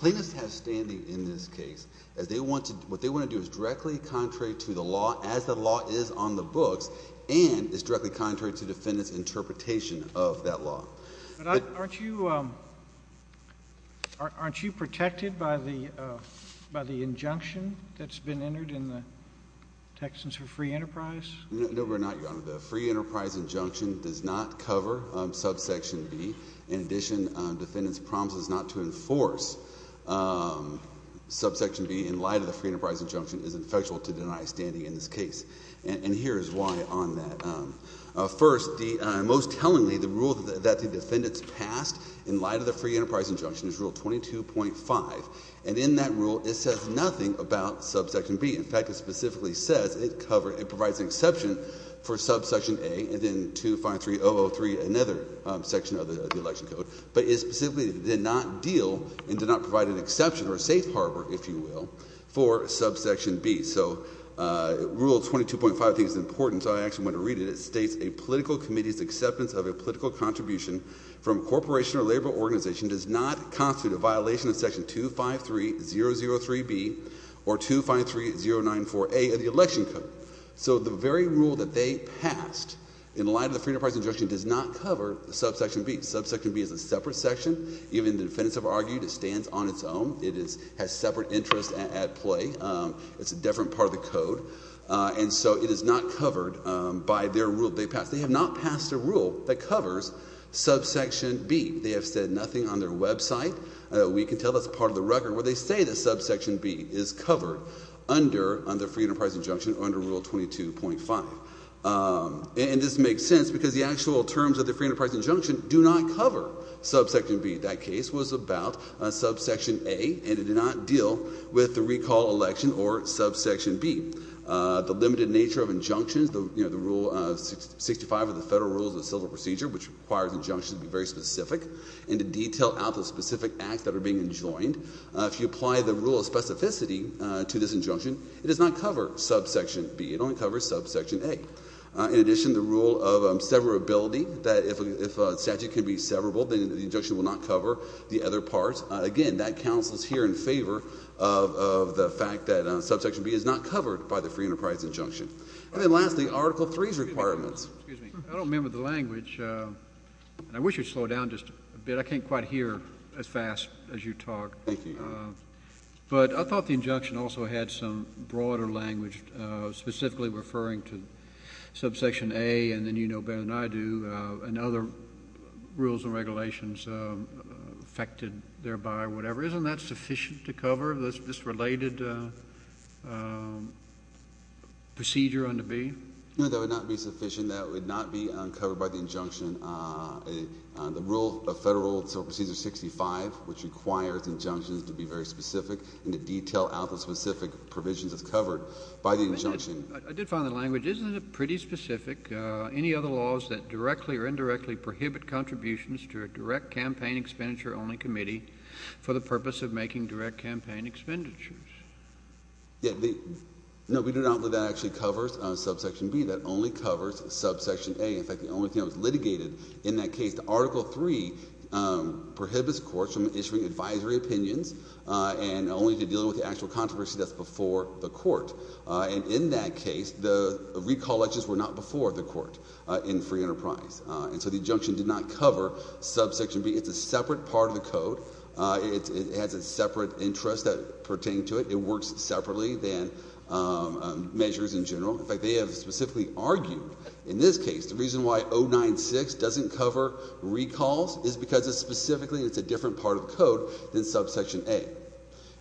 Plaintiffs have standing in this case as they want to what they want to do is directly contrary to the law as the law is on the books and is directly contrary to defendants interpretation of that law. Aren't you? Aren't you protected by the by the injunction that's been entered in the. No, we're not. You're on the free enterprise injunction does not cover subsection B. In addition, defendants promises not to enforce subsection B in light of the free enterprise injunction is ineffectual to deny standing in this case. And here's why on that. First, the most tellingly the rule that the defendants passed in light of the free enterprise injunction is rule 22.5. And in that rule, it says nothing about subsection B. In fact, it specifically says it covered. It provides an exception for subsection A and then to find 3003, another section of the election code. But it specifically did not deal and did not provide an exception or a safe harbor, if you will, for subsection B. So rule 22.5 is important. So I actually want to read it. It states a political committee's acceptance of a political contribution from a corporation or labor organization does not constitute a violation of section 253003B or 253094A of the election code. So the very rule that they passed in light of the free enterprise injunction does not cover subsection B. Subsection B is a separate section. Even the defendants have argued it stands on its own. It is has separate interest at play. It's a different part of the code. And so it is not covered by their rule. They have not passed a rule that covers subsection B. They have said nothing on their website. We can tell that's part of the record where they say that subsection B is covered under the free enterprise injunction under rule 22.5. And this makes sense because the actual terms of the free enterprise injunction do not cover subsection B. That case was about subsection A and it did not deal with the recall election or subsection B. The limited nature of injunctions, the rule 65 of the Federal Rules of Civil Procedure, which requires injunctions to be very specific and to detail out the specific acts that are being enjoined. If you apply the rule of specificity to this injunction, it does not cover subsection B. It only covers subsection A. In addition, the rule of severability, that if a statute can be severable, then the injunction will not cover the other parts. Again, that counsels here in favor of the fact that subsection B is not covered by the free enterprise injunction. And then lastly, Article III's requirements. Excuse me. I don't remember the language, and I wish it would slow down just a bit. I can't quite hear as fast as you talk. Thank you. But I thought the injunction also had some broader language, specifically referring to subsection A, and then you know better than I do, and other rules and regulations affected thereby, whatever. Isn't that sufficient to cover this related procedure under B? No, that would not be sufficient. That would not be covered by the injunction. The rule of Federal Procedure 65, which requires injunctions to be very specific and to detail out the specific provisions, is covered by the injunction. I did find the language. Isn't it pretty specific? Any other laws that directly or indirectly prohibit contributions to a direct campaign expenditure-only committee for the purpose of making direct campaign expenditures? No, we do not believe that actually covers subsection B. That only covers subsection A. In fact, the only thing that was litigated in that case, the Article III prohibits courts from issuing advisory opinions and only to deal with the actual controversy that's before the court. And in that case, the recall elections were not before the court in free enterprise. And so the injunction did not cover subsection B. It's a separate part of the code. It has a separate interest that pertains to it. It works separately than measures in general. In fact, they have specifically argued in this case the reason why 096 doesn't cover recalls is because specifically it's a different part of the code than subsection A.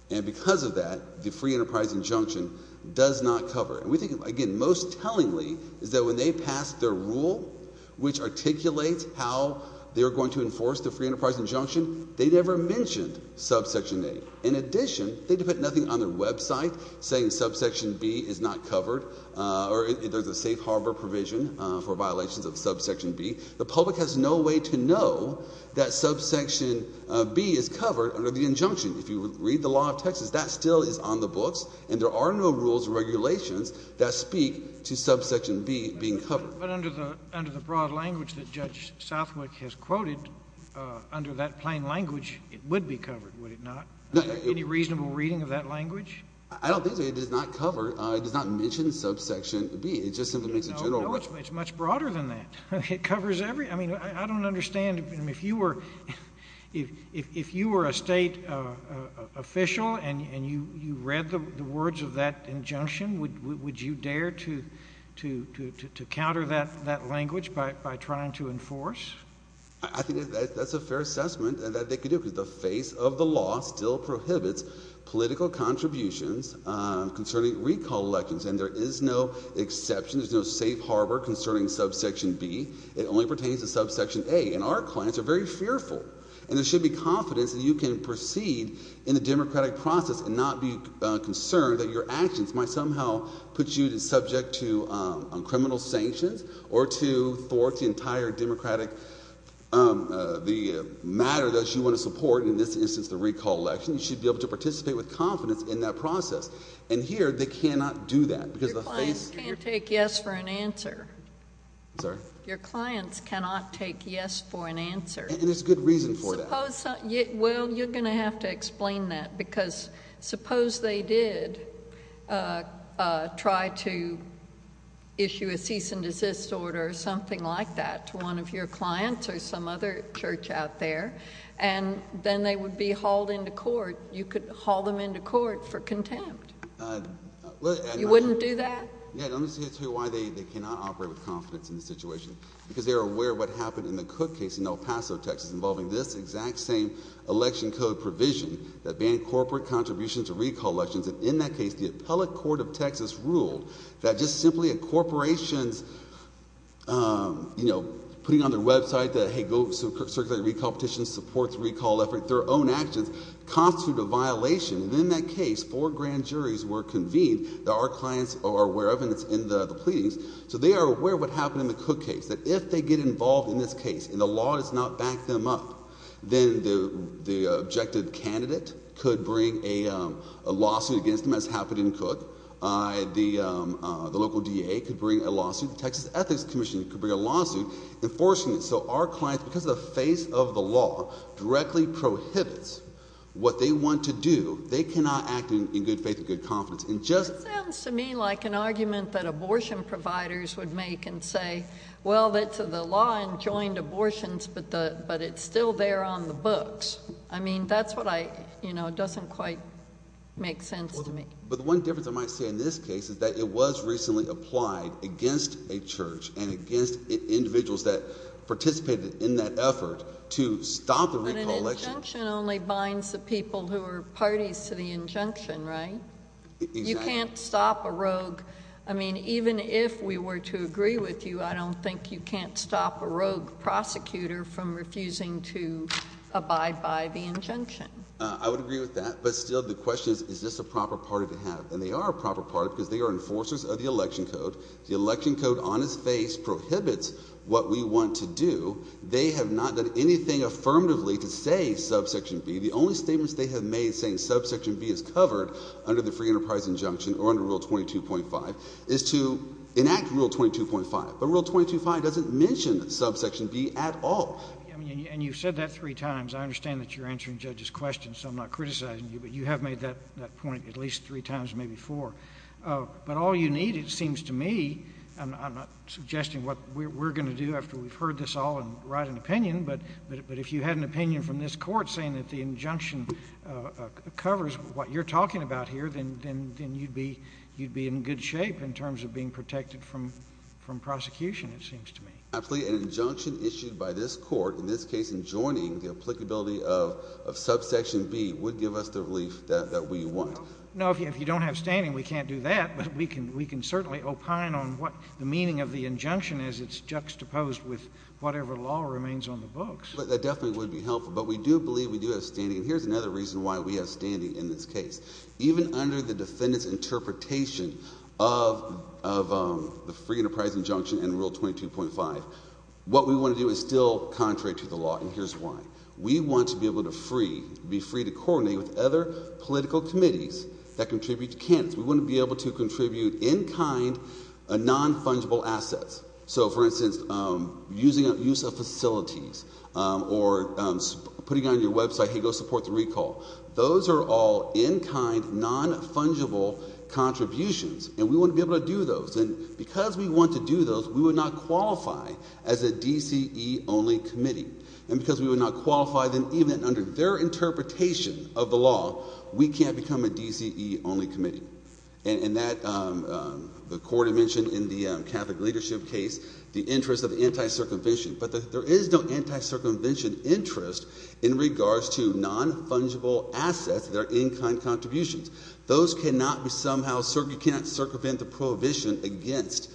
And because of that, the free enterprise injunction does not cover it. We think, again, most tellingly is that when they passed their rule, which articulates how they're going to enforce the free enterprise injunction, they never mentioned subsection A. In addition, they put nothing on their website saying subsection B is not covered or there's a safe harbor provision for violations of subsection B. The public has no way to know that subsection B is covered under the injunction. If you read the law of Texas, that still is on the books, and there are no rules or regulations that speak to subsection B being covered. But under the broad language that Judge Southwick has quoted, under that plain language, it would be covered, would it not? Any reasonable reading of that language? I don't think so. It does not cover. It does not mention subsection B. It just simply makes a general rule. No, it's much broader than that. It covers every – I mean, I don't understand. If you were a state official and you read the words of that injunction, would you dare to counter that language by trying to enforce? I think that's a fair assessment that they could do because the face of the law still prohibits political contributions concerning recall elections. And there is no exception. There's no safe harbor concerning subsection B. It only pertains to subsection A, and our clients are very fearful. And there should be confidence that you can proceed in the democratic process and not be concerned that your actions might somehow put you subject to criminal sanctions or to thwart the entire democratic – the matter that you want to support, in this instance the recall election. You should be able to participate with confidence in that process. And here they cannot do that because the face – Your clients can't take yes for an answer. I'm sorry? Your clients cannot take yes for an answer. And there's good reason for that. Suppose – well, you're going to have to explain that because suppose they did try to issue a cease and desist order or something like that to one of your clients or some other church out there, and then they would be hauled into court. You could haul them into court for contempt. I'm not sure. You wouldn't do that? Yeah, and I'm just going to tell you why they cannot operate with confidence in the situation, because they are aware of what happened in the Cook case in El Paso, Texas, involving this exact same election code provision that banned corporate contributions to recall elections. And in that case, the appellate court of Texas ruled that just simply a corporation's putting on their website that, hey, go circulate a recall petition, support the recall effort, their own actions constitute a violation. And in that case, four grand juries were convened that our clients are aware of, and it's in the pleadings. So they are aware of what happened in the Cook case, that if they get involved in this case and the law does not back them up, then the objective candidate could bring a lawsuit against them, as happened in Cook. The local DA could bring a lawsuit. The Texas Ethics Commission could bring a lawsuit enforcing it. So our clients, because the face of the law directly prohibits what they want to do, they cannot act in good faith and good confidence. It sounds to me like an argument that abortion providers would make and say, well, it's the law and joint abortions, but it's still there on the books. I mean, that's what I, you know, doesn't quite make sense to me. But the one difference I might say in this case is that it was recently applied against a church and against individuals that participated in that effort to stop the recall election. But an injunction only binds the people who are parties to the injunction, right? Exactly. You can't stop a rogue. I mean, even if we were to agree with you, I don't think you can't stop a rogue prosecutor from refusing to abide by the injunction. I would agree with that, but still the question is, is this a proper party to have? And they are a proper party because they are enforcers of the election code. The election code on its face prohibits what we want to do. They have not done anything affirmatively to say subsection B. The only statements they have made saying subsection B is covered under the free enterprise injunction or under Rule 22.5 is to enact Rule 22.5. But Rule 22.5 doesn't mention subsection B at all. And you've said that three times. I understand that you're answering judges' questions, so I'm not criticizing you, but you have made that point at least three times, maybe four. But all you need, it seems to me, I'm not suggesting what we're going to do after we've heard this all and write an opinion, but if you had an opinion from this court saying that the injunction covers what you're talking about here, then you'd be in good shape in terms of being protected from prosecution, it seems to me. Absolutely. An injunction issued by this court, in this case enjoining the applicability of subsection B, would give us the relief that we want. No, if you don't have standing, we can't do that. But we can certainly opine on what the meaning of the injunction is. It's juxtaposed with whatever law remains on the books. That definitely would be helpful. But we do believe we do have standing. And here's another reason why we have standing in this case. Even under the defendant's interpretation of the free enterprise injunction in Rule 22.5, what we want to do is still contrary to the law, and here's why. We want to be able to be free to coordinate with other political committees that contribute to candidates. We want to be able to contribute in kind non-fungible assets. So, for instance, use of facilities or putting on your website, hey, go support the recall. Those are all in kind non-fungible contributions, and we want to be able to do those. And because we want to do those, we would not qualify as a DCE-only committee. And because we would not qualify, then even under their interpretation of the law, we can't become a DCE-only committee. And that, the court had mentioned in the Catholic leadership case, the interest of anti-circumvention. But there is no anti-circumvention interest in regards to non-fungible assets that are in kind contributions. Those cannot be somehow, you cannot circumvent the prohibition against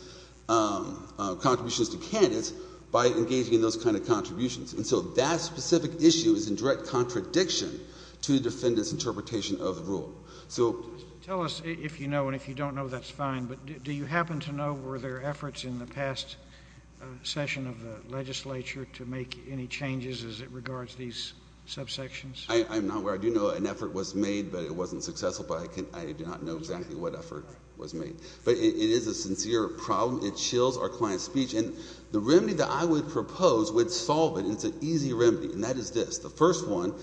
contributions to candidates by engaging in those kind of contributions. And so that specific issue is in direct contradiction to the defendant's interpretation of the rule. So. Tell us if you know, and if you don't know, that's fine. But do you happen to know were there efforts in the past session of the legislature to make any changes as it regards these subsections? I'm not aware. I do know an effort was made, but it wasn't successful. But I do not know exactly what effort was made. But it is a sincere problem. It chills our client's speech. And the remedy that I would propose would solve it, and it's an easy remedy. And that is this. The first one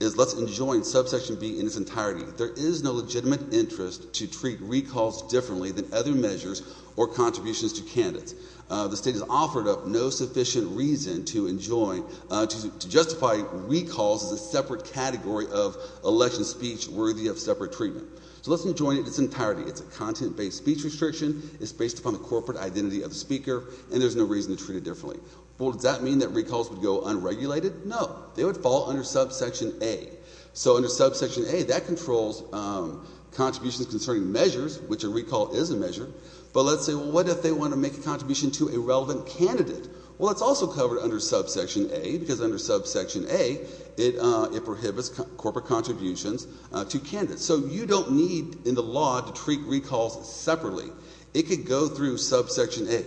is let's enjoin subsection B in its entirety. There is no legitimate interest to treat recalls differently than other measures or contributions to candidates. The state has offered up no sufficient reason to enjoin, to justify recalls as a separate category of election speech worthy of separate treatment. So let's enjoin it in its entirety. It's a content-based speech restriction. It's based upon the corporate identity of the speaker. And there's no reason to treat it differently. Well, does that mean that recalls would go unregulated? No. They would fall under subsection A. So under subsection A, that controls contributions concerning measures, which a recall is a measure. But let's say, well, what if they want to make a contribution to a relevant candidate? Well, it's also covered under subsection A because under subsection A, it prohibits corporate contributions to candidates. So you don't need in the law to treat recalls separately. It could go through subsection A.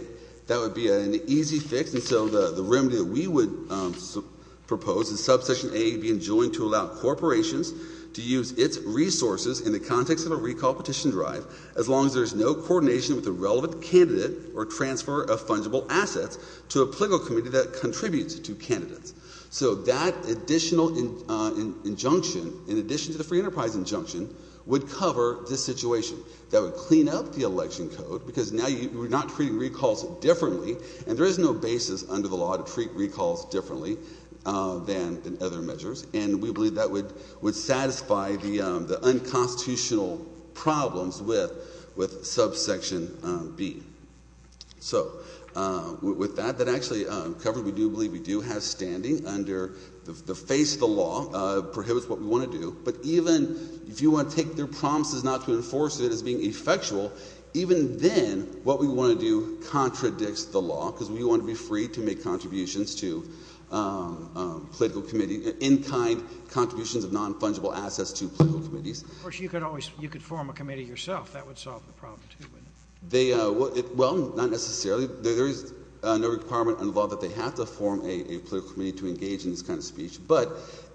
That would be an easy fix. And so the remedy that we would propose is subsection A being enjoined to allow corporations to use its resources in the context of a recall petition drive, as long as there's no coordination with a relevant candidate or transfer of fungible assets to a political committee that contributes to candidates. So that additional injunction, in addition to the free enterprise injunction, would cover this situation. That would clean up the election code because now you're not treating recalls differently, and there is no basis under the law to treat recalls differently than in other measures. And we believe that would satisfy the unconstitutional problems with subsection B. So with that, that actually covers what we do believe we do have standing under the face of the law. It prohibits what we want to do. But even if you want to take their promises not to enforce it as being effectual, even then what we want to do contradicts the law because we want to be free to make contributions to political committees, in-kind contributions of non-fungible assets to political committees. Of course, you could form a committee yourself. That would solve the problem, too. Well, not necessarily. There is no requirement under the law that they have to form a political committee to engage in this kind of speech. But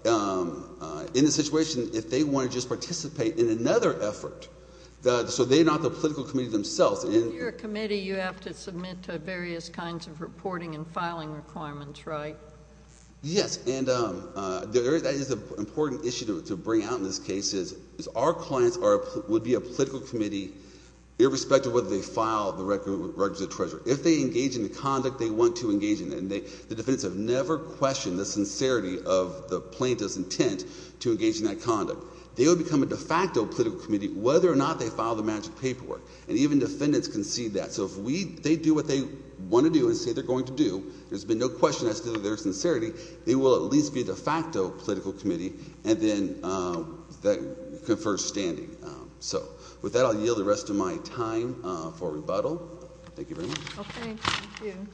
in this situation, if they want to just participate in another effort, so they're not the political committee themselves. If you're a committee, you have to submit to various kinds of reporting and filing requirements, right? Yes, and that is an important issue to bring out in this case is our clients would be a political committee irrespective of whether they file the records of treasurer. If they engage in the conduct they want to engage in, and the defendants have never questioned the sincerity of the plaintiff's intent to engage in that conduct, they would become a de facto political committee whether or not they file the magic paperwork. And even defendants can see that. So if they do what they want to do and say they're going to do, there's been no question as to their sincerity, they will at least be a de facto political committee and then confer standing. So with that, I'll yield the rest of my time for rebuttal. Thank you very much. Okay. Thank you.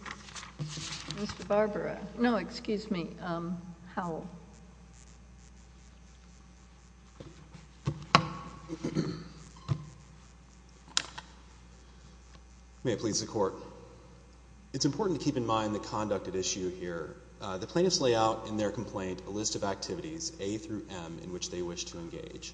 Mr. Barbara. No, excuse me. Howell. May it please the Court. It's important to keep in mind the conduct at issue here. The plaintiffs lay out in their complaint a list of activities, A through M, in which they wish to engage.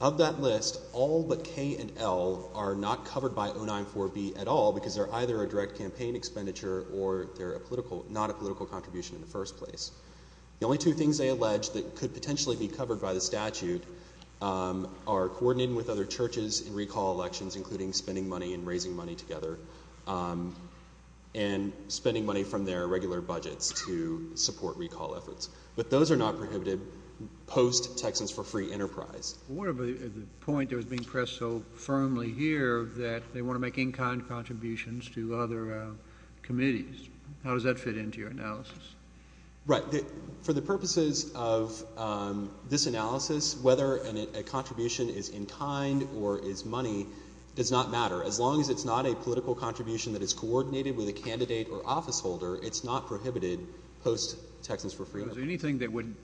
Of that list, all but K and L are not covered by 094B at all because they're either a direct campaign expenditure or they're not a political contribution in the first place. The only two things they allege that could potentially be covered by the statute are coordinating with other churches in recall elections, including spending money and raising money together, and spending money from their regular budgets to support recall efforts. But those are not prohibited post-Texans for Free Enterprise. What about the point that was being pressed so firmly here that they want to make in-kind contributions to other committees? How does that fit into your analysis? Right. For the purposes of this analysis, whether a contribution is in-kind or is money does not matter. As long as it's not a political contribution that is coordinated with a candidate or officeholder, it's not prohibited post-Texans for Free Enterprise. Is there anything that would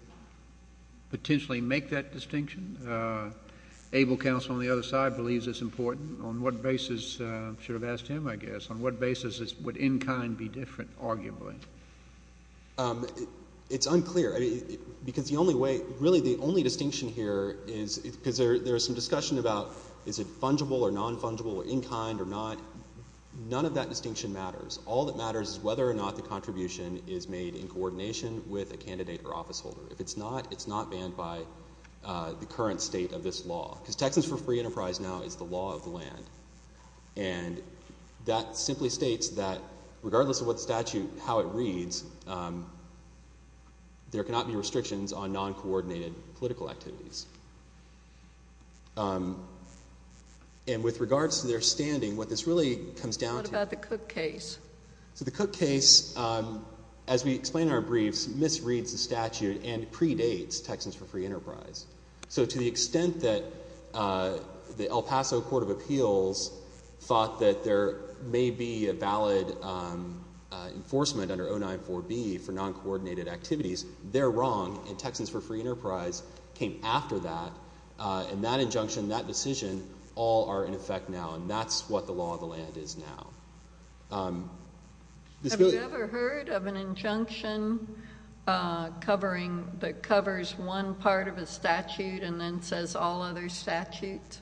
potentially make that distinction? Able counsel on the other side believes it's important. On what basis – I should have asked him, I guess – on what basis would in-kind be different, arguably? It's unclear because the only way – really, the only distinction here is because there is some discussion about is it fungible or non-fungible or in-kind or not. None of that distinction matters. All that matters is whether or not the contribution is made in coordination with a candidate or officeholder. If it's not, it's not banned by the current state of this law because Texans for Free Enterprise now is the law of the land. And that simply states that regardless of what statute, how it reads, there cannot be restrictions on non-coordinated political activities. And with regards to their standing, what this really comes down to – so the Cook case, as we explain in our briefs, misreads the statute and predates Texans for Free Enterprise. So to the extent that the El Paso Court of Appeals thought that there may be a valid enforcement under 094B for non-coordinated activities, they're wrong. And Texans for Free Enterprise came after that. And that injunction, that decision, all are in effect now, and that's what the law of the land is now. Have you ever heard of an injunction that covers one part of a statute and then says all other statutes?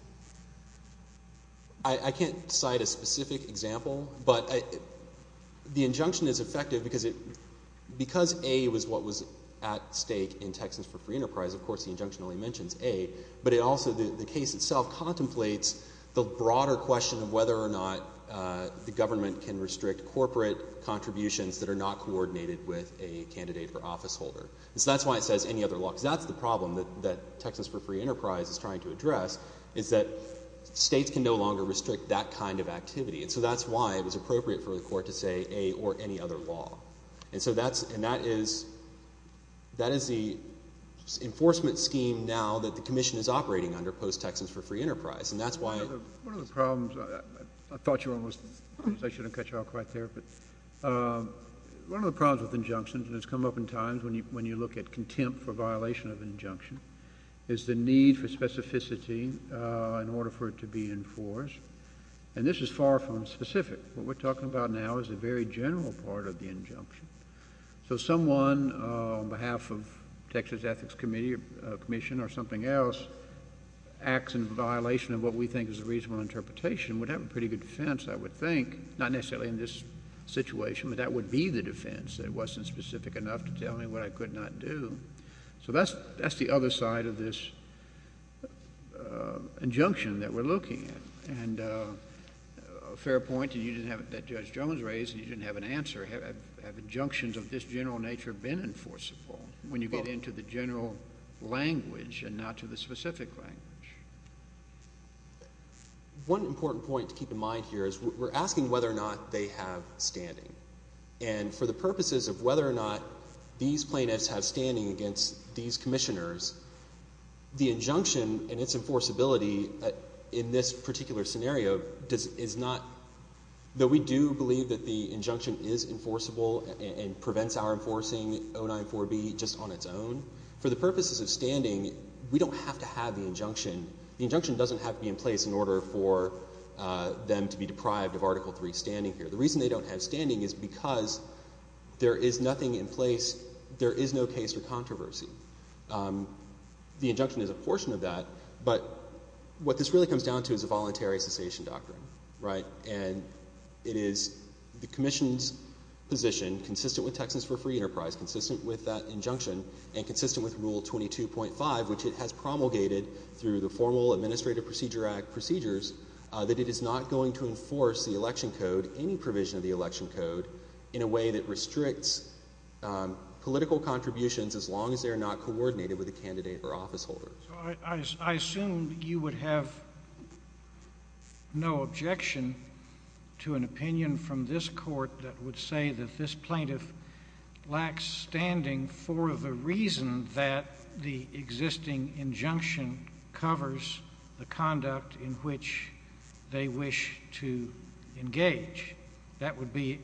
I can't cite a specific example, but the injunction is effective because it – because A was what was at stake in Texans for Free Enterprise, of course the injunction only mentions A, but it also – the case itself contemplates the broader question of whether or not the government can restrict corporate contributions that are not coordinated with a candidate for officeholder. And so that's why it says any other law, because that's the problem that Texans for Free Enterprise is trying to address, is that states can no longer restrict that kind of activity. And so that's why it was appropriate for the Court to say A or any other law. And so that's – and that is – that is the enforcement scheme now that the Commission is operating under post-Texans for Free Enterprise. And that's why – One of the problems – I thought you were almost – I should have cut you off right there, but one of the problems with injunctions, and it's come up in times when you look at contempt for violation of an injunction, is the need for specificity in order for it to be enforced. And this is far from specific. What we're talking about now is a very general part of the injunction. So someone on behalf of Texas Ethics Committee or Commission or something else acts in violation of what we think is a reasonable interpretation would have a pretty good defense, I would think. Not necessarily in this situation, but that would be the defense, that it wasn't specific enough to tell me what I could not do. So that's the other side of this injunction that we're looking at. And a fair point, and you didn't have – that Judge Jones raised, and you didn't have an answer. Have injunctions of this general nature been enforceable when you get into the general language and not to the specific language? One important point to keep in mind here is we're asking whether or not they have standing. And for the purposes of whether or not these plaintiffs have standing against these commissioners, the injunction and its enforceability in this particular scenario is not – though we do believe that the injunction is enforceable and prevents our enforcing 094B just on its own, for the purposes of standing, we don't have to have the injunction. The injunction doesn't have to be in place in order for them to be deprived of Article III standing here. The reason they don't have standing is because there is nothing in place, there is no case for controversy. The injunction is a portion of that, but what this really comes down to is a voluntary cessation doctrine, right? And it is the commission's position, consistent with Texas for Free Enterprise, consistent with that injunction, and consistent with Rule 22.5, which it has promulgated through the formal Administrative Procedure Act procedures, that it is not going to enforce the election code, any provision of the election code, in a way that restricts political contributions as long as they are not coordinated with a candidate or officeholder. So I assume you would have no objection to an opinion from this Court that would say that this plaintiff lacks standing for the reason that the existing injunction covers the conduct in which they wish to engage. That would be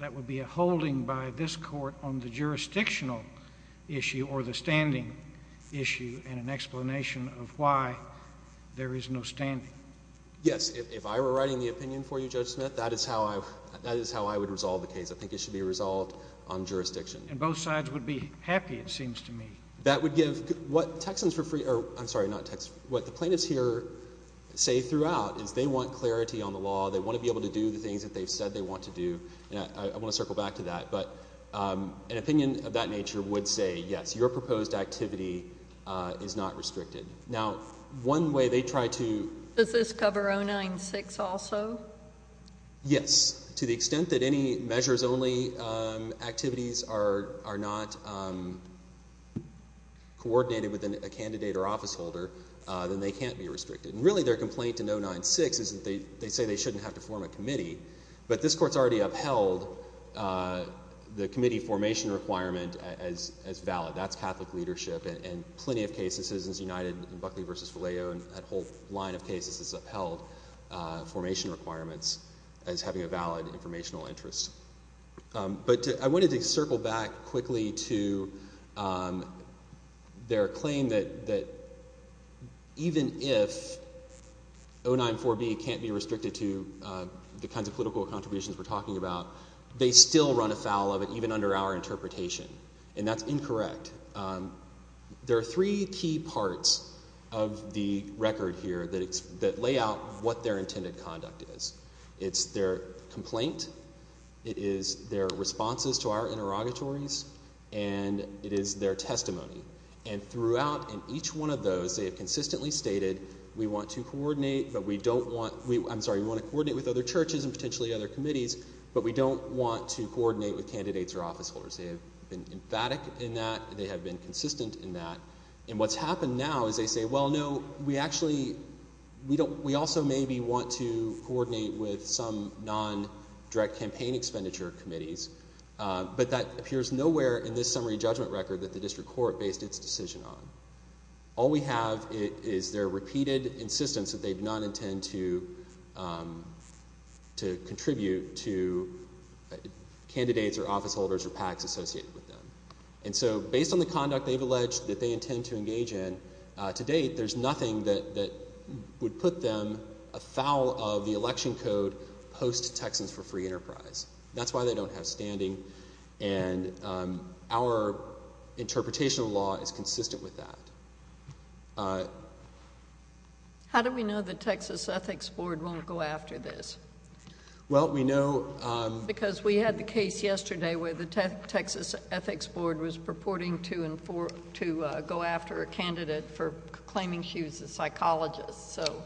a holding by this Court on the jurisdictional issue or the standing issue, and an explanation of why there is no standing. Yes. If I were writing the opinion for you, Judge Smith, that is how I would resolve the case. I think it should be resolved on jurisdiction. And both sides would be happy, it seems to me. That would give what Texans for Free—I'm sorry, not Texans. What the plaintiffs here say throughout is they want clarity on the law. They want to be able to do the things that they've said they want to do. And I want to circle back to that. But an opinion of that nature would say, yes, your proposed activity is not restricted. Now, one way they try to— Does this cover 096 also? Yes. To the extent that any measures-only activities are not coordinated with a candidate or officeholder, then they can't be restricted. And really their complaint in 096 is that they say they shouldn't have to form a committee. But this Court's already upheld the committee formation requirement as valid. That's Catholic leadership. And plenty of cases, Citizens United and Buckley v. Valeo, and that whole line of cases has upheld formation requirements as having a valid informational interest. But I wanted to circle back quickly to their claim that even if 094B can't be restricted to the kinds of political contributions we're talking about, they still run afoul of it, even under our interpretation. And that's incorrect. There are three key parts of the record here that lay out what their intended conduct is. It's their complaint. It is their responses to our interrogatories. And it is their testimony. And throughout, in each one of those, they have consistently stated, we want to coordinate with other churches and potentially other committees, but we don't want to coordinate with candidates or officeholders. They have been emphatic in that. They have been consistent in that. And what's happened now is they say, well, no, we also maybe want to coordinate with some non-direct campaign expenditure committees, but that appears nowhere in this summary judgment record that the district court based its decision on. All we have is their repeated insistence that they do not intend to contribute to candidates or officeholders or PACs associated with them. And so based on the conduct they've alleged that they intend to engage in, to date there's nothing that would put them afoul of the election code post-Texans for Free Enterprise. That's why they don't have standing. And our interpretation of the law is consistent with that. How do we know the Texas Ethics Board won't go after this? Because we had the case yesterday where the Texas Ethics Board was purporting to go after a candidate for claiming she was a psychologist. So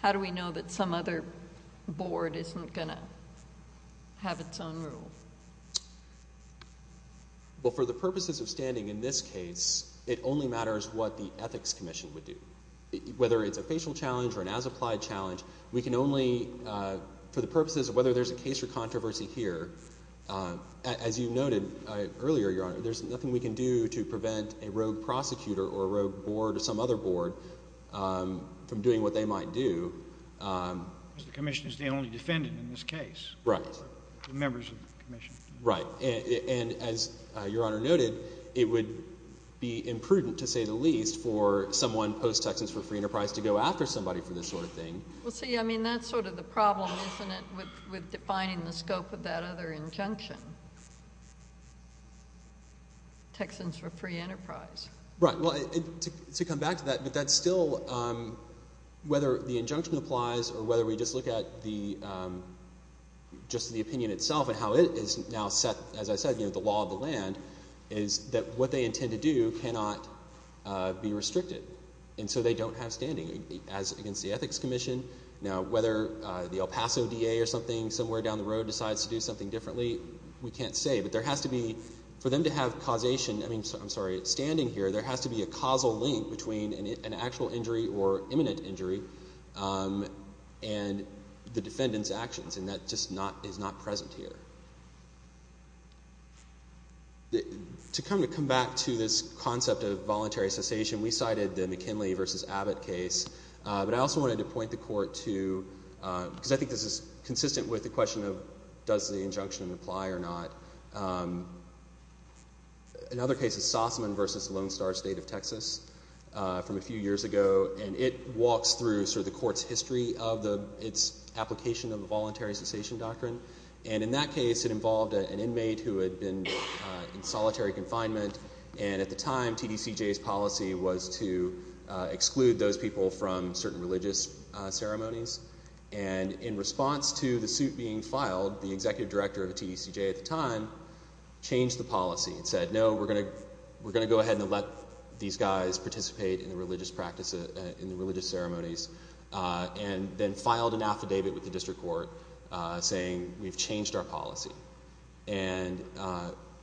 how do we know that some other board isn't going to have its own rule? Well, for the purposes of standing in this case, it only matters what the Ethics Commission would do. Whether it's a facial challenge or an as-applied challenge, we can only, for the purposes of whether there's a case or controversy here, as you noted earlier, Your Honor, there's nothing we can do to prevent a rogue prosecutor or a rogue board or some other board from doing what they might do. Because the commission is the only defendant in this case. Right. The members of the commission. Right. And as Your Honor noted, it would be imprudent, to say the least, for someone post-Texans for Free Enterprise to go after somebody for this sort of thing. Well, see, I mean, that's sort of the problem, isn't it, with defining the scope of that other injunction? Texans for Free Enterprise. Right. Well, to come back to that, but that's still whether the injunction applies or whether we just look at the opinion itself and how it is now set, as I said, the law of the land, is that what they intend to do cannot be restricted. And so they don't have standing. As against the Ethics Commission, whether the El Paso DA or something somewhere down the road decides to do something differently, we can't say. But there has to be, for them to have causation, I mean, I'm sorry, standing here, there has to be a causal link between an actual injury or imminent injury and the defendant's actions, and that just is not present here. To kind of come back to this concept of voluntary cessation, we cited the McKinley v. Abbott case, but I also wanted to point the Court to, because I think this is consistent with the question of does the injunction apply or not. Another case is Sossaman v. Lone Star State of Texas from a few years ago, and it walks through sort of the Court's history of its application of the voluntary cessation doctrine. And in that case, it involved an inmate who had been in solitary confinement, and at the time, TDCJ's policy was to exclude those people from certain religious ceremonies. And in response to the suit being filed, the executive director of TDCJ at the time changed the policy and said, no, we're going to go ahead and let these guys participate in the religious ceremonies, and then filed an affidavit with the district court saying, we've changed our policy. And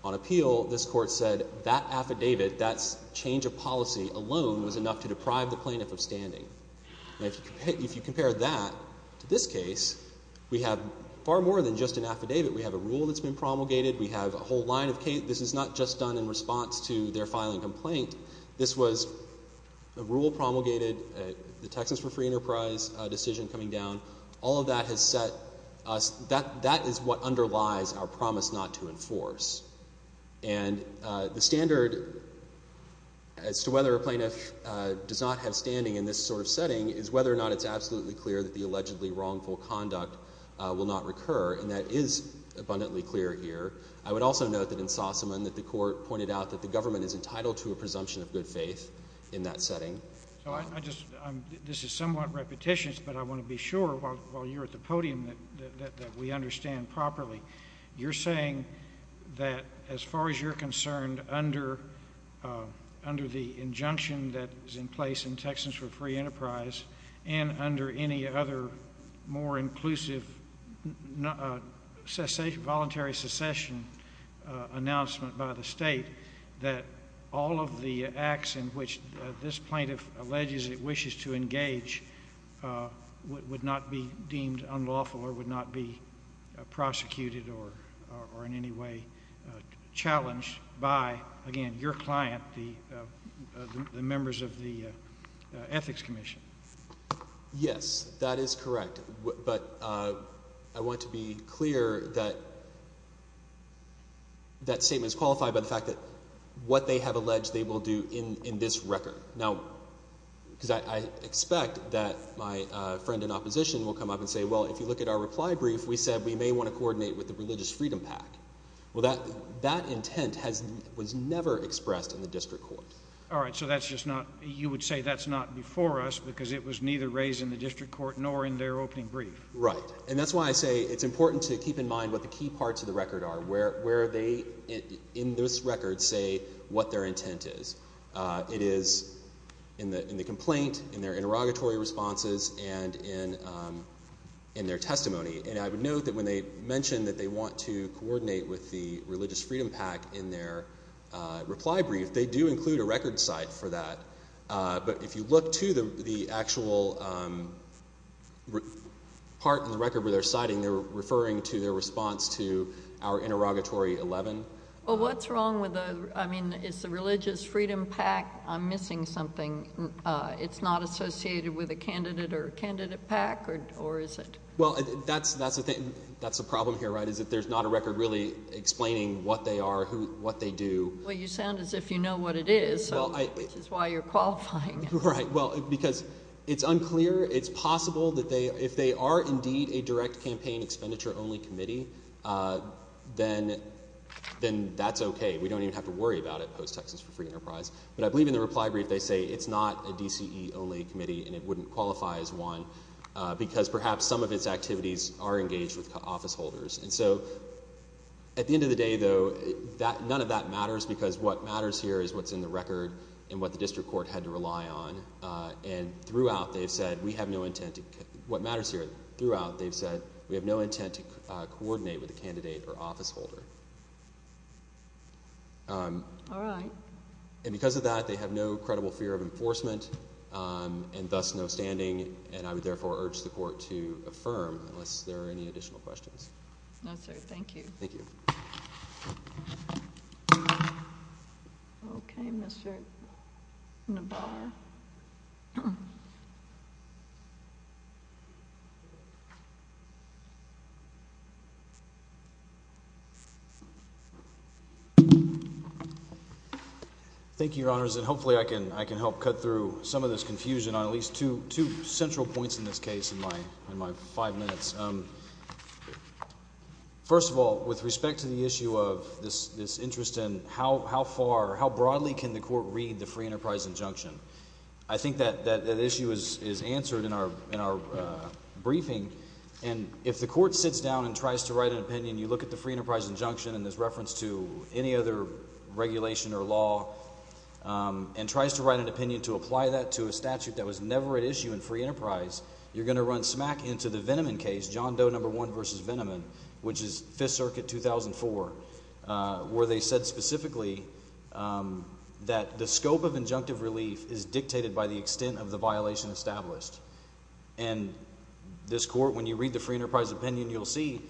on appeal, this court said that affidavit, that change of policy alone, was enough to deprive the plaintiff of standing. Now, if you compare that to this case, we have far more than just an affidavit. We have a rule that's been promulgated. We have a whole line of case. This is not just done in response to their filing complaint. This was a rule promulgated, the Texas for Free Enterprise decision coming down. All of that has set us – that is what underlies our promise not to enforce. And the standard as to whether a plaintiff does not have standing in this sort of setting is whether or not it's absolutely clear that the allegedly wrongful conduct will not recur. And that is abundantly clear here. I would also note that in Sossaman that the court pointed out that the government is entitled to a presumption of good faith in that setting. So I just – this is somewhat repetitious, but I want to be sure while you're at the podium that we understand properly. You're saying that as far as you're concerned, under the injunction that is in place in Texas for Free Enterprise and under any other more inclusive voluntary secession announcement by the state, that all of the acts in which this plaintiff alleges it wishes to engage would not be deemed unlawful or would not be prosecuted or in any way challenged by, again, your client, the members of the Ethics Commission. Yes, that is correct. But I want to be clear that that statement is qualified by the fact that what they have alleged they will do in this record. Now, because I expect that my friend in opposition will come up and say, well, if you look at our reply brief, we said we may want to coordinate with the Religious Freedom PAC. Well, that intent was never expressed in the district court. All right, so that's just not – you would say that's not before us because it was neither raised in the district court nor in their opening brief. Right, and that's why I say it's important to keep in mind what the key parts of the record are, where they in this record say what their intent is. It is in the complaint, in their interrogatory responses, and in their testimony. And I would note that when they mention that they want to coordinate with the Religious Freedom PAC in their reply brief, they do include a record cite for that. But if you look to the actual part in the record where they're citing, they're referring to their response to our interrogatory 11. Well, what's wrong with the – I mean, it's the Religious Freedom PAC. I'm missing something. It's not associated with a candidate or a candidate PAC, or is it? Well, that's the problem here, right, is that there's not a record really explaining what they are, what they do. Well, you sound as if you know what it is, which is why you're qualifying. Right, well, because it's unclear. It's possible that if they are indeed a direct campaign expenditure only committee, then that's okay. We don't even have to worry about it post-Texas for free enterprise. But I believe in the reply brief they say it's not a DCE only committee and it wouldn't qualify as one because perhaps some of its activities are engaged with office holders. And so at the end of the day, though, none of that matters because what matters here is what's in the record and what the district court had to rely on. And throughout they've said we have no intent to – what matters here, throughout they've said we have no intent to coordinate with a candidate or office holder. All right. And because of that, they have no credible fear of enforcement and thus no standing, and I would therefore urge the court to affirm unless there are any additional questions. No, sir. Thank you. Thank you. Okay, Mr. Nabarro. Thank you, Your Honors. And hopefully I can help cut through some of this confusion on at least two central points in this case in my five minutes. First of all, with respect to the issue of this interest in how far or how broadly can the court read the free enterprise injunction, I think that issue is answered in our briefing. And if the court sits down and tries to write an opinion, you look at the free enterprise injunction and there's reference to any other regulation or law, and tries to write an opinion to apply that to a statute that was never at issue in free enterprise, you're going to run smack into the Veneman case, John Doe No. 1 v. Veneman, which is Fifth Circuit, 2004, where they said specifically that the scope of injunctive relief is dictated by the extent of the violation established. And this court, when you read the free enterprise opinion, you'll see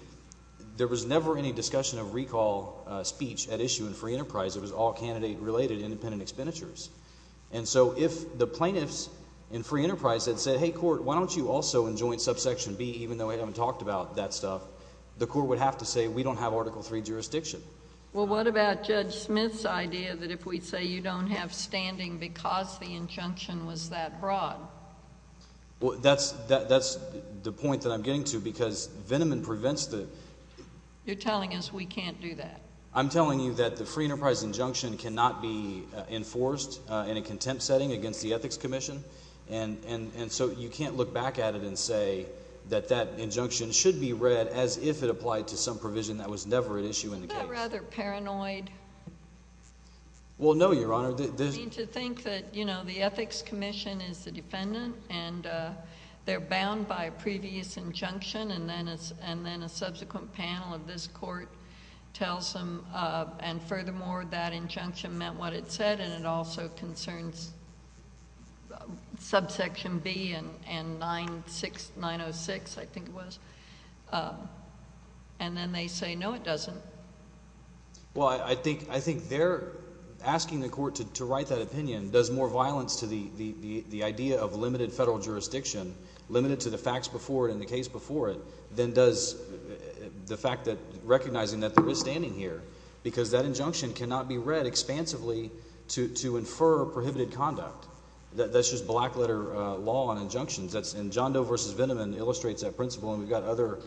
there was never any discussion of recall speech at issue in free enterprise. It was all candidate-related independent expenditures. And so if the plaintiffs in free enterprise had said, hey, court, why don't you also in joint subsection B, even though we haven't talked about that stuff, the court would have to say we don't have Article III jurisdiction. Well, what about Judge Smith's idea that if we say you don't have standing because the injunction was that broad? Well, that's the point that I'm getting to because Veneman prevents the— You're telling us we can't do that. I'm telling you that the free enterprise injunction cannot be enforced in a contempt setting against the Ethics Commission. And so you can't look back at it and say that that injunction should be read as if it applied to some provision that was never at issue in the case. Isn't that rather paranoid? Well, no, Your Honor. I mean to think that the Ethics Commission is the defendant and they're bound by a previous injunction and then a subsequent panel of this court tells them and furthermore that injunction meant what it said and it also concerns subsection B and 906, I think it was, and then they say, no, it doesn't. Well, I think they're asking the court to write that opinion. It does more violence to the idea of limited federal jurisdiction, limited to the facts before it and the case before it, than does the fact that recognizing that there is standing here. Because that injunction cannot be read expansively to infer prohibited conduct. That's just black-letter law on injunctions. And John Doe v. Vindman illustrates that principle and we've got other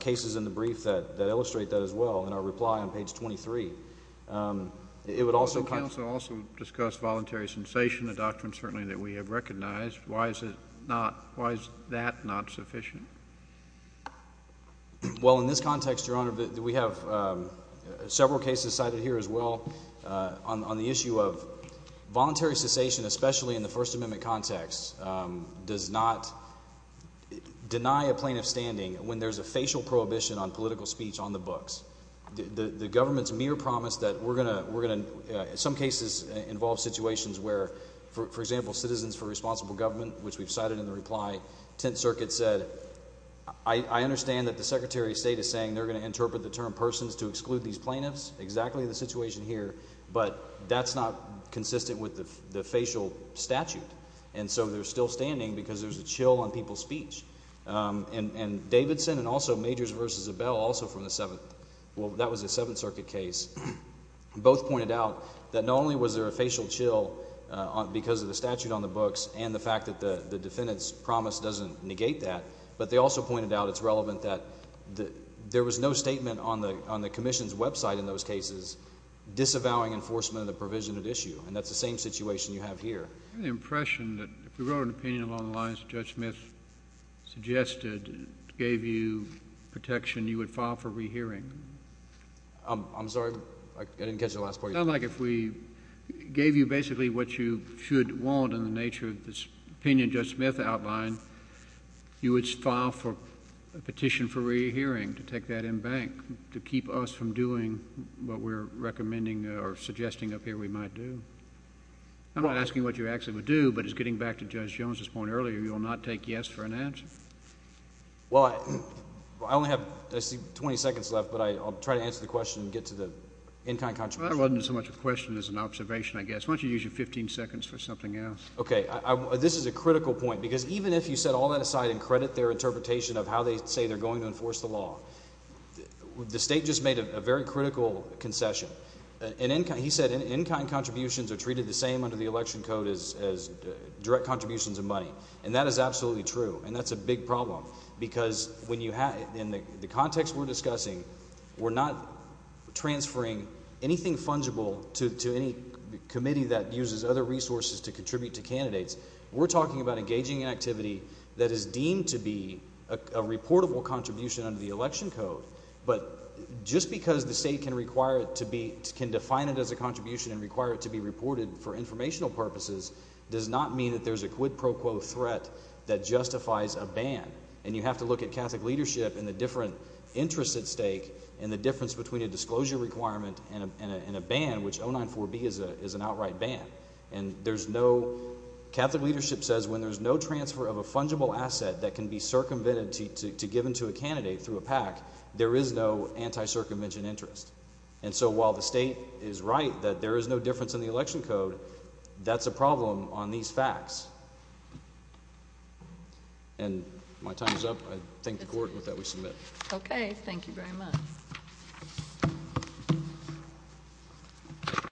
cases in the brief that illustrate that as well in our reply on page 23. It would also— The counsel also discussed voluntary cessation, a doctrine certainly that we have recognized. Why is that not sufficient? Well, in this context, Your Honor, we have several cases cited here as well on the issue of voluntary cessation, but voluntary cessation, especially in the First Amendment context, does not deny a plaintiff standing when there's a facial prohibition on political speech on the books. The government's mere promise that we're going to, in some cases, involve situations where, for example, Citizens for Responsible Government, which we've cited in the reply, 10th Circuit said, I understand that the Secretary of State is saying they're going to interpret the term persons to exclude these plaintiffs. Exactly the situation here, but that's not consistent with the facial statute. And so they're still standing because there's a chill on people's speech. And Davidson and also Majors v. Abell, also from the Seventh—well, that was a Seventh Circuit case. Both pointed out that not only was there a facial chill because of the statute on the books and the fact that the defendant's promise doesn't negate that, but they also pointed out it's relevant that there was no statement on the Commission's website in those cases disavowing enforcement of the provision at issue. And that's the same situation you have here. I have the impression that if we wrote an opinion along the lines that Judge Smith suggested, gave you protection, you would file for rehearing. I'm sorry? I didn't catch the last part of your question. It sounds like if we gave you basically what you should want in the nature of this opinion Judge Smith outlined, you would file for a petition for rehearing to take that in bank to keep us from doing what we're recommending or suggesting up here we might do. I'm not asking what you actually would do, but as getting back to Judge Jones' point earlier, you will not take yes for an answer. Well, I only have, I see, 20 seconds left, but I'll try to answer the question and get to the in-kind contributions. Well, that wasn't so much a question as an observation, I guess. Why don't you use your 15 seconds for something else? Okay, this is a critical point because even if you set all that aside and credit their interpretation of how they say they're going to enforce the law, the State just made a very critical concession. He said in-kind contributions are treated the same under the Election Code as direct contributions of money, and that is absolutely true. And that's a big problem because in the context we're discussing, we're not transferring anything fungible to any committee that uses other resources to contribute to candidates. We're talking about engaging in activity that is deemed to be a reportable contribution under the Election Code. But just because the State can require it to be, can define it as a contribution and require it to be reported for informational purposes does not mean that there's a quid pro quo threat that justifies a ban. And you have to look at Catholic leadership and the different interests at stake and the difference between a disclosure requirement and a ban, which 094B is an outright ban. And there's no, Catholic leadership says when there's no transfer of a fungible asset that can be circumvented to give to a candidate through a PAC, there is no anti-circumvention interest. And so while the State is right that there is no difference in the Election Code, that's a problem on these facts. And my time is up. I thank the Court with that we submit. Okay, thank you very much.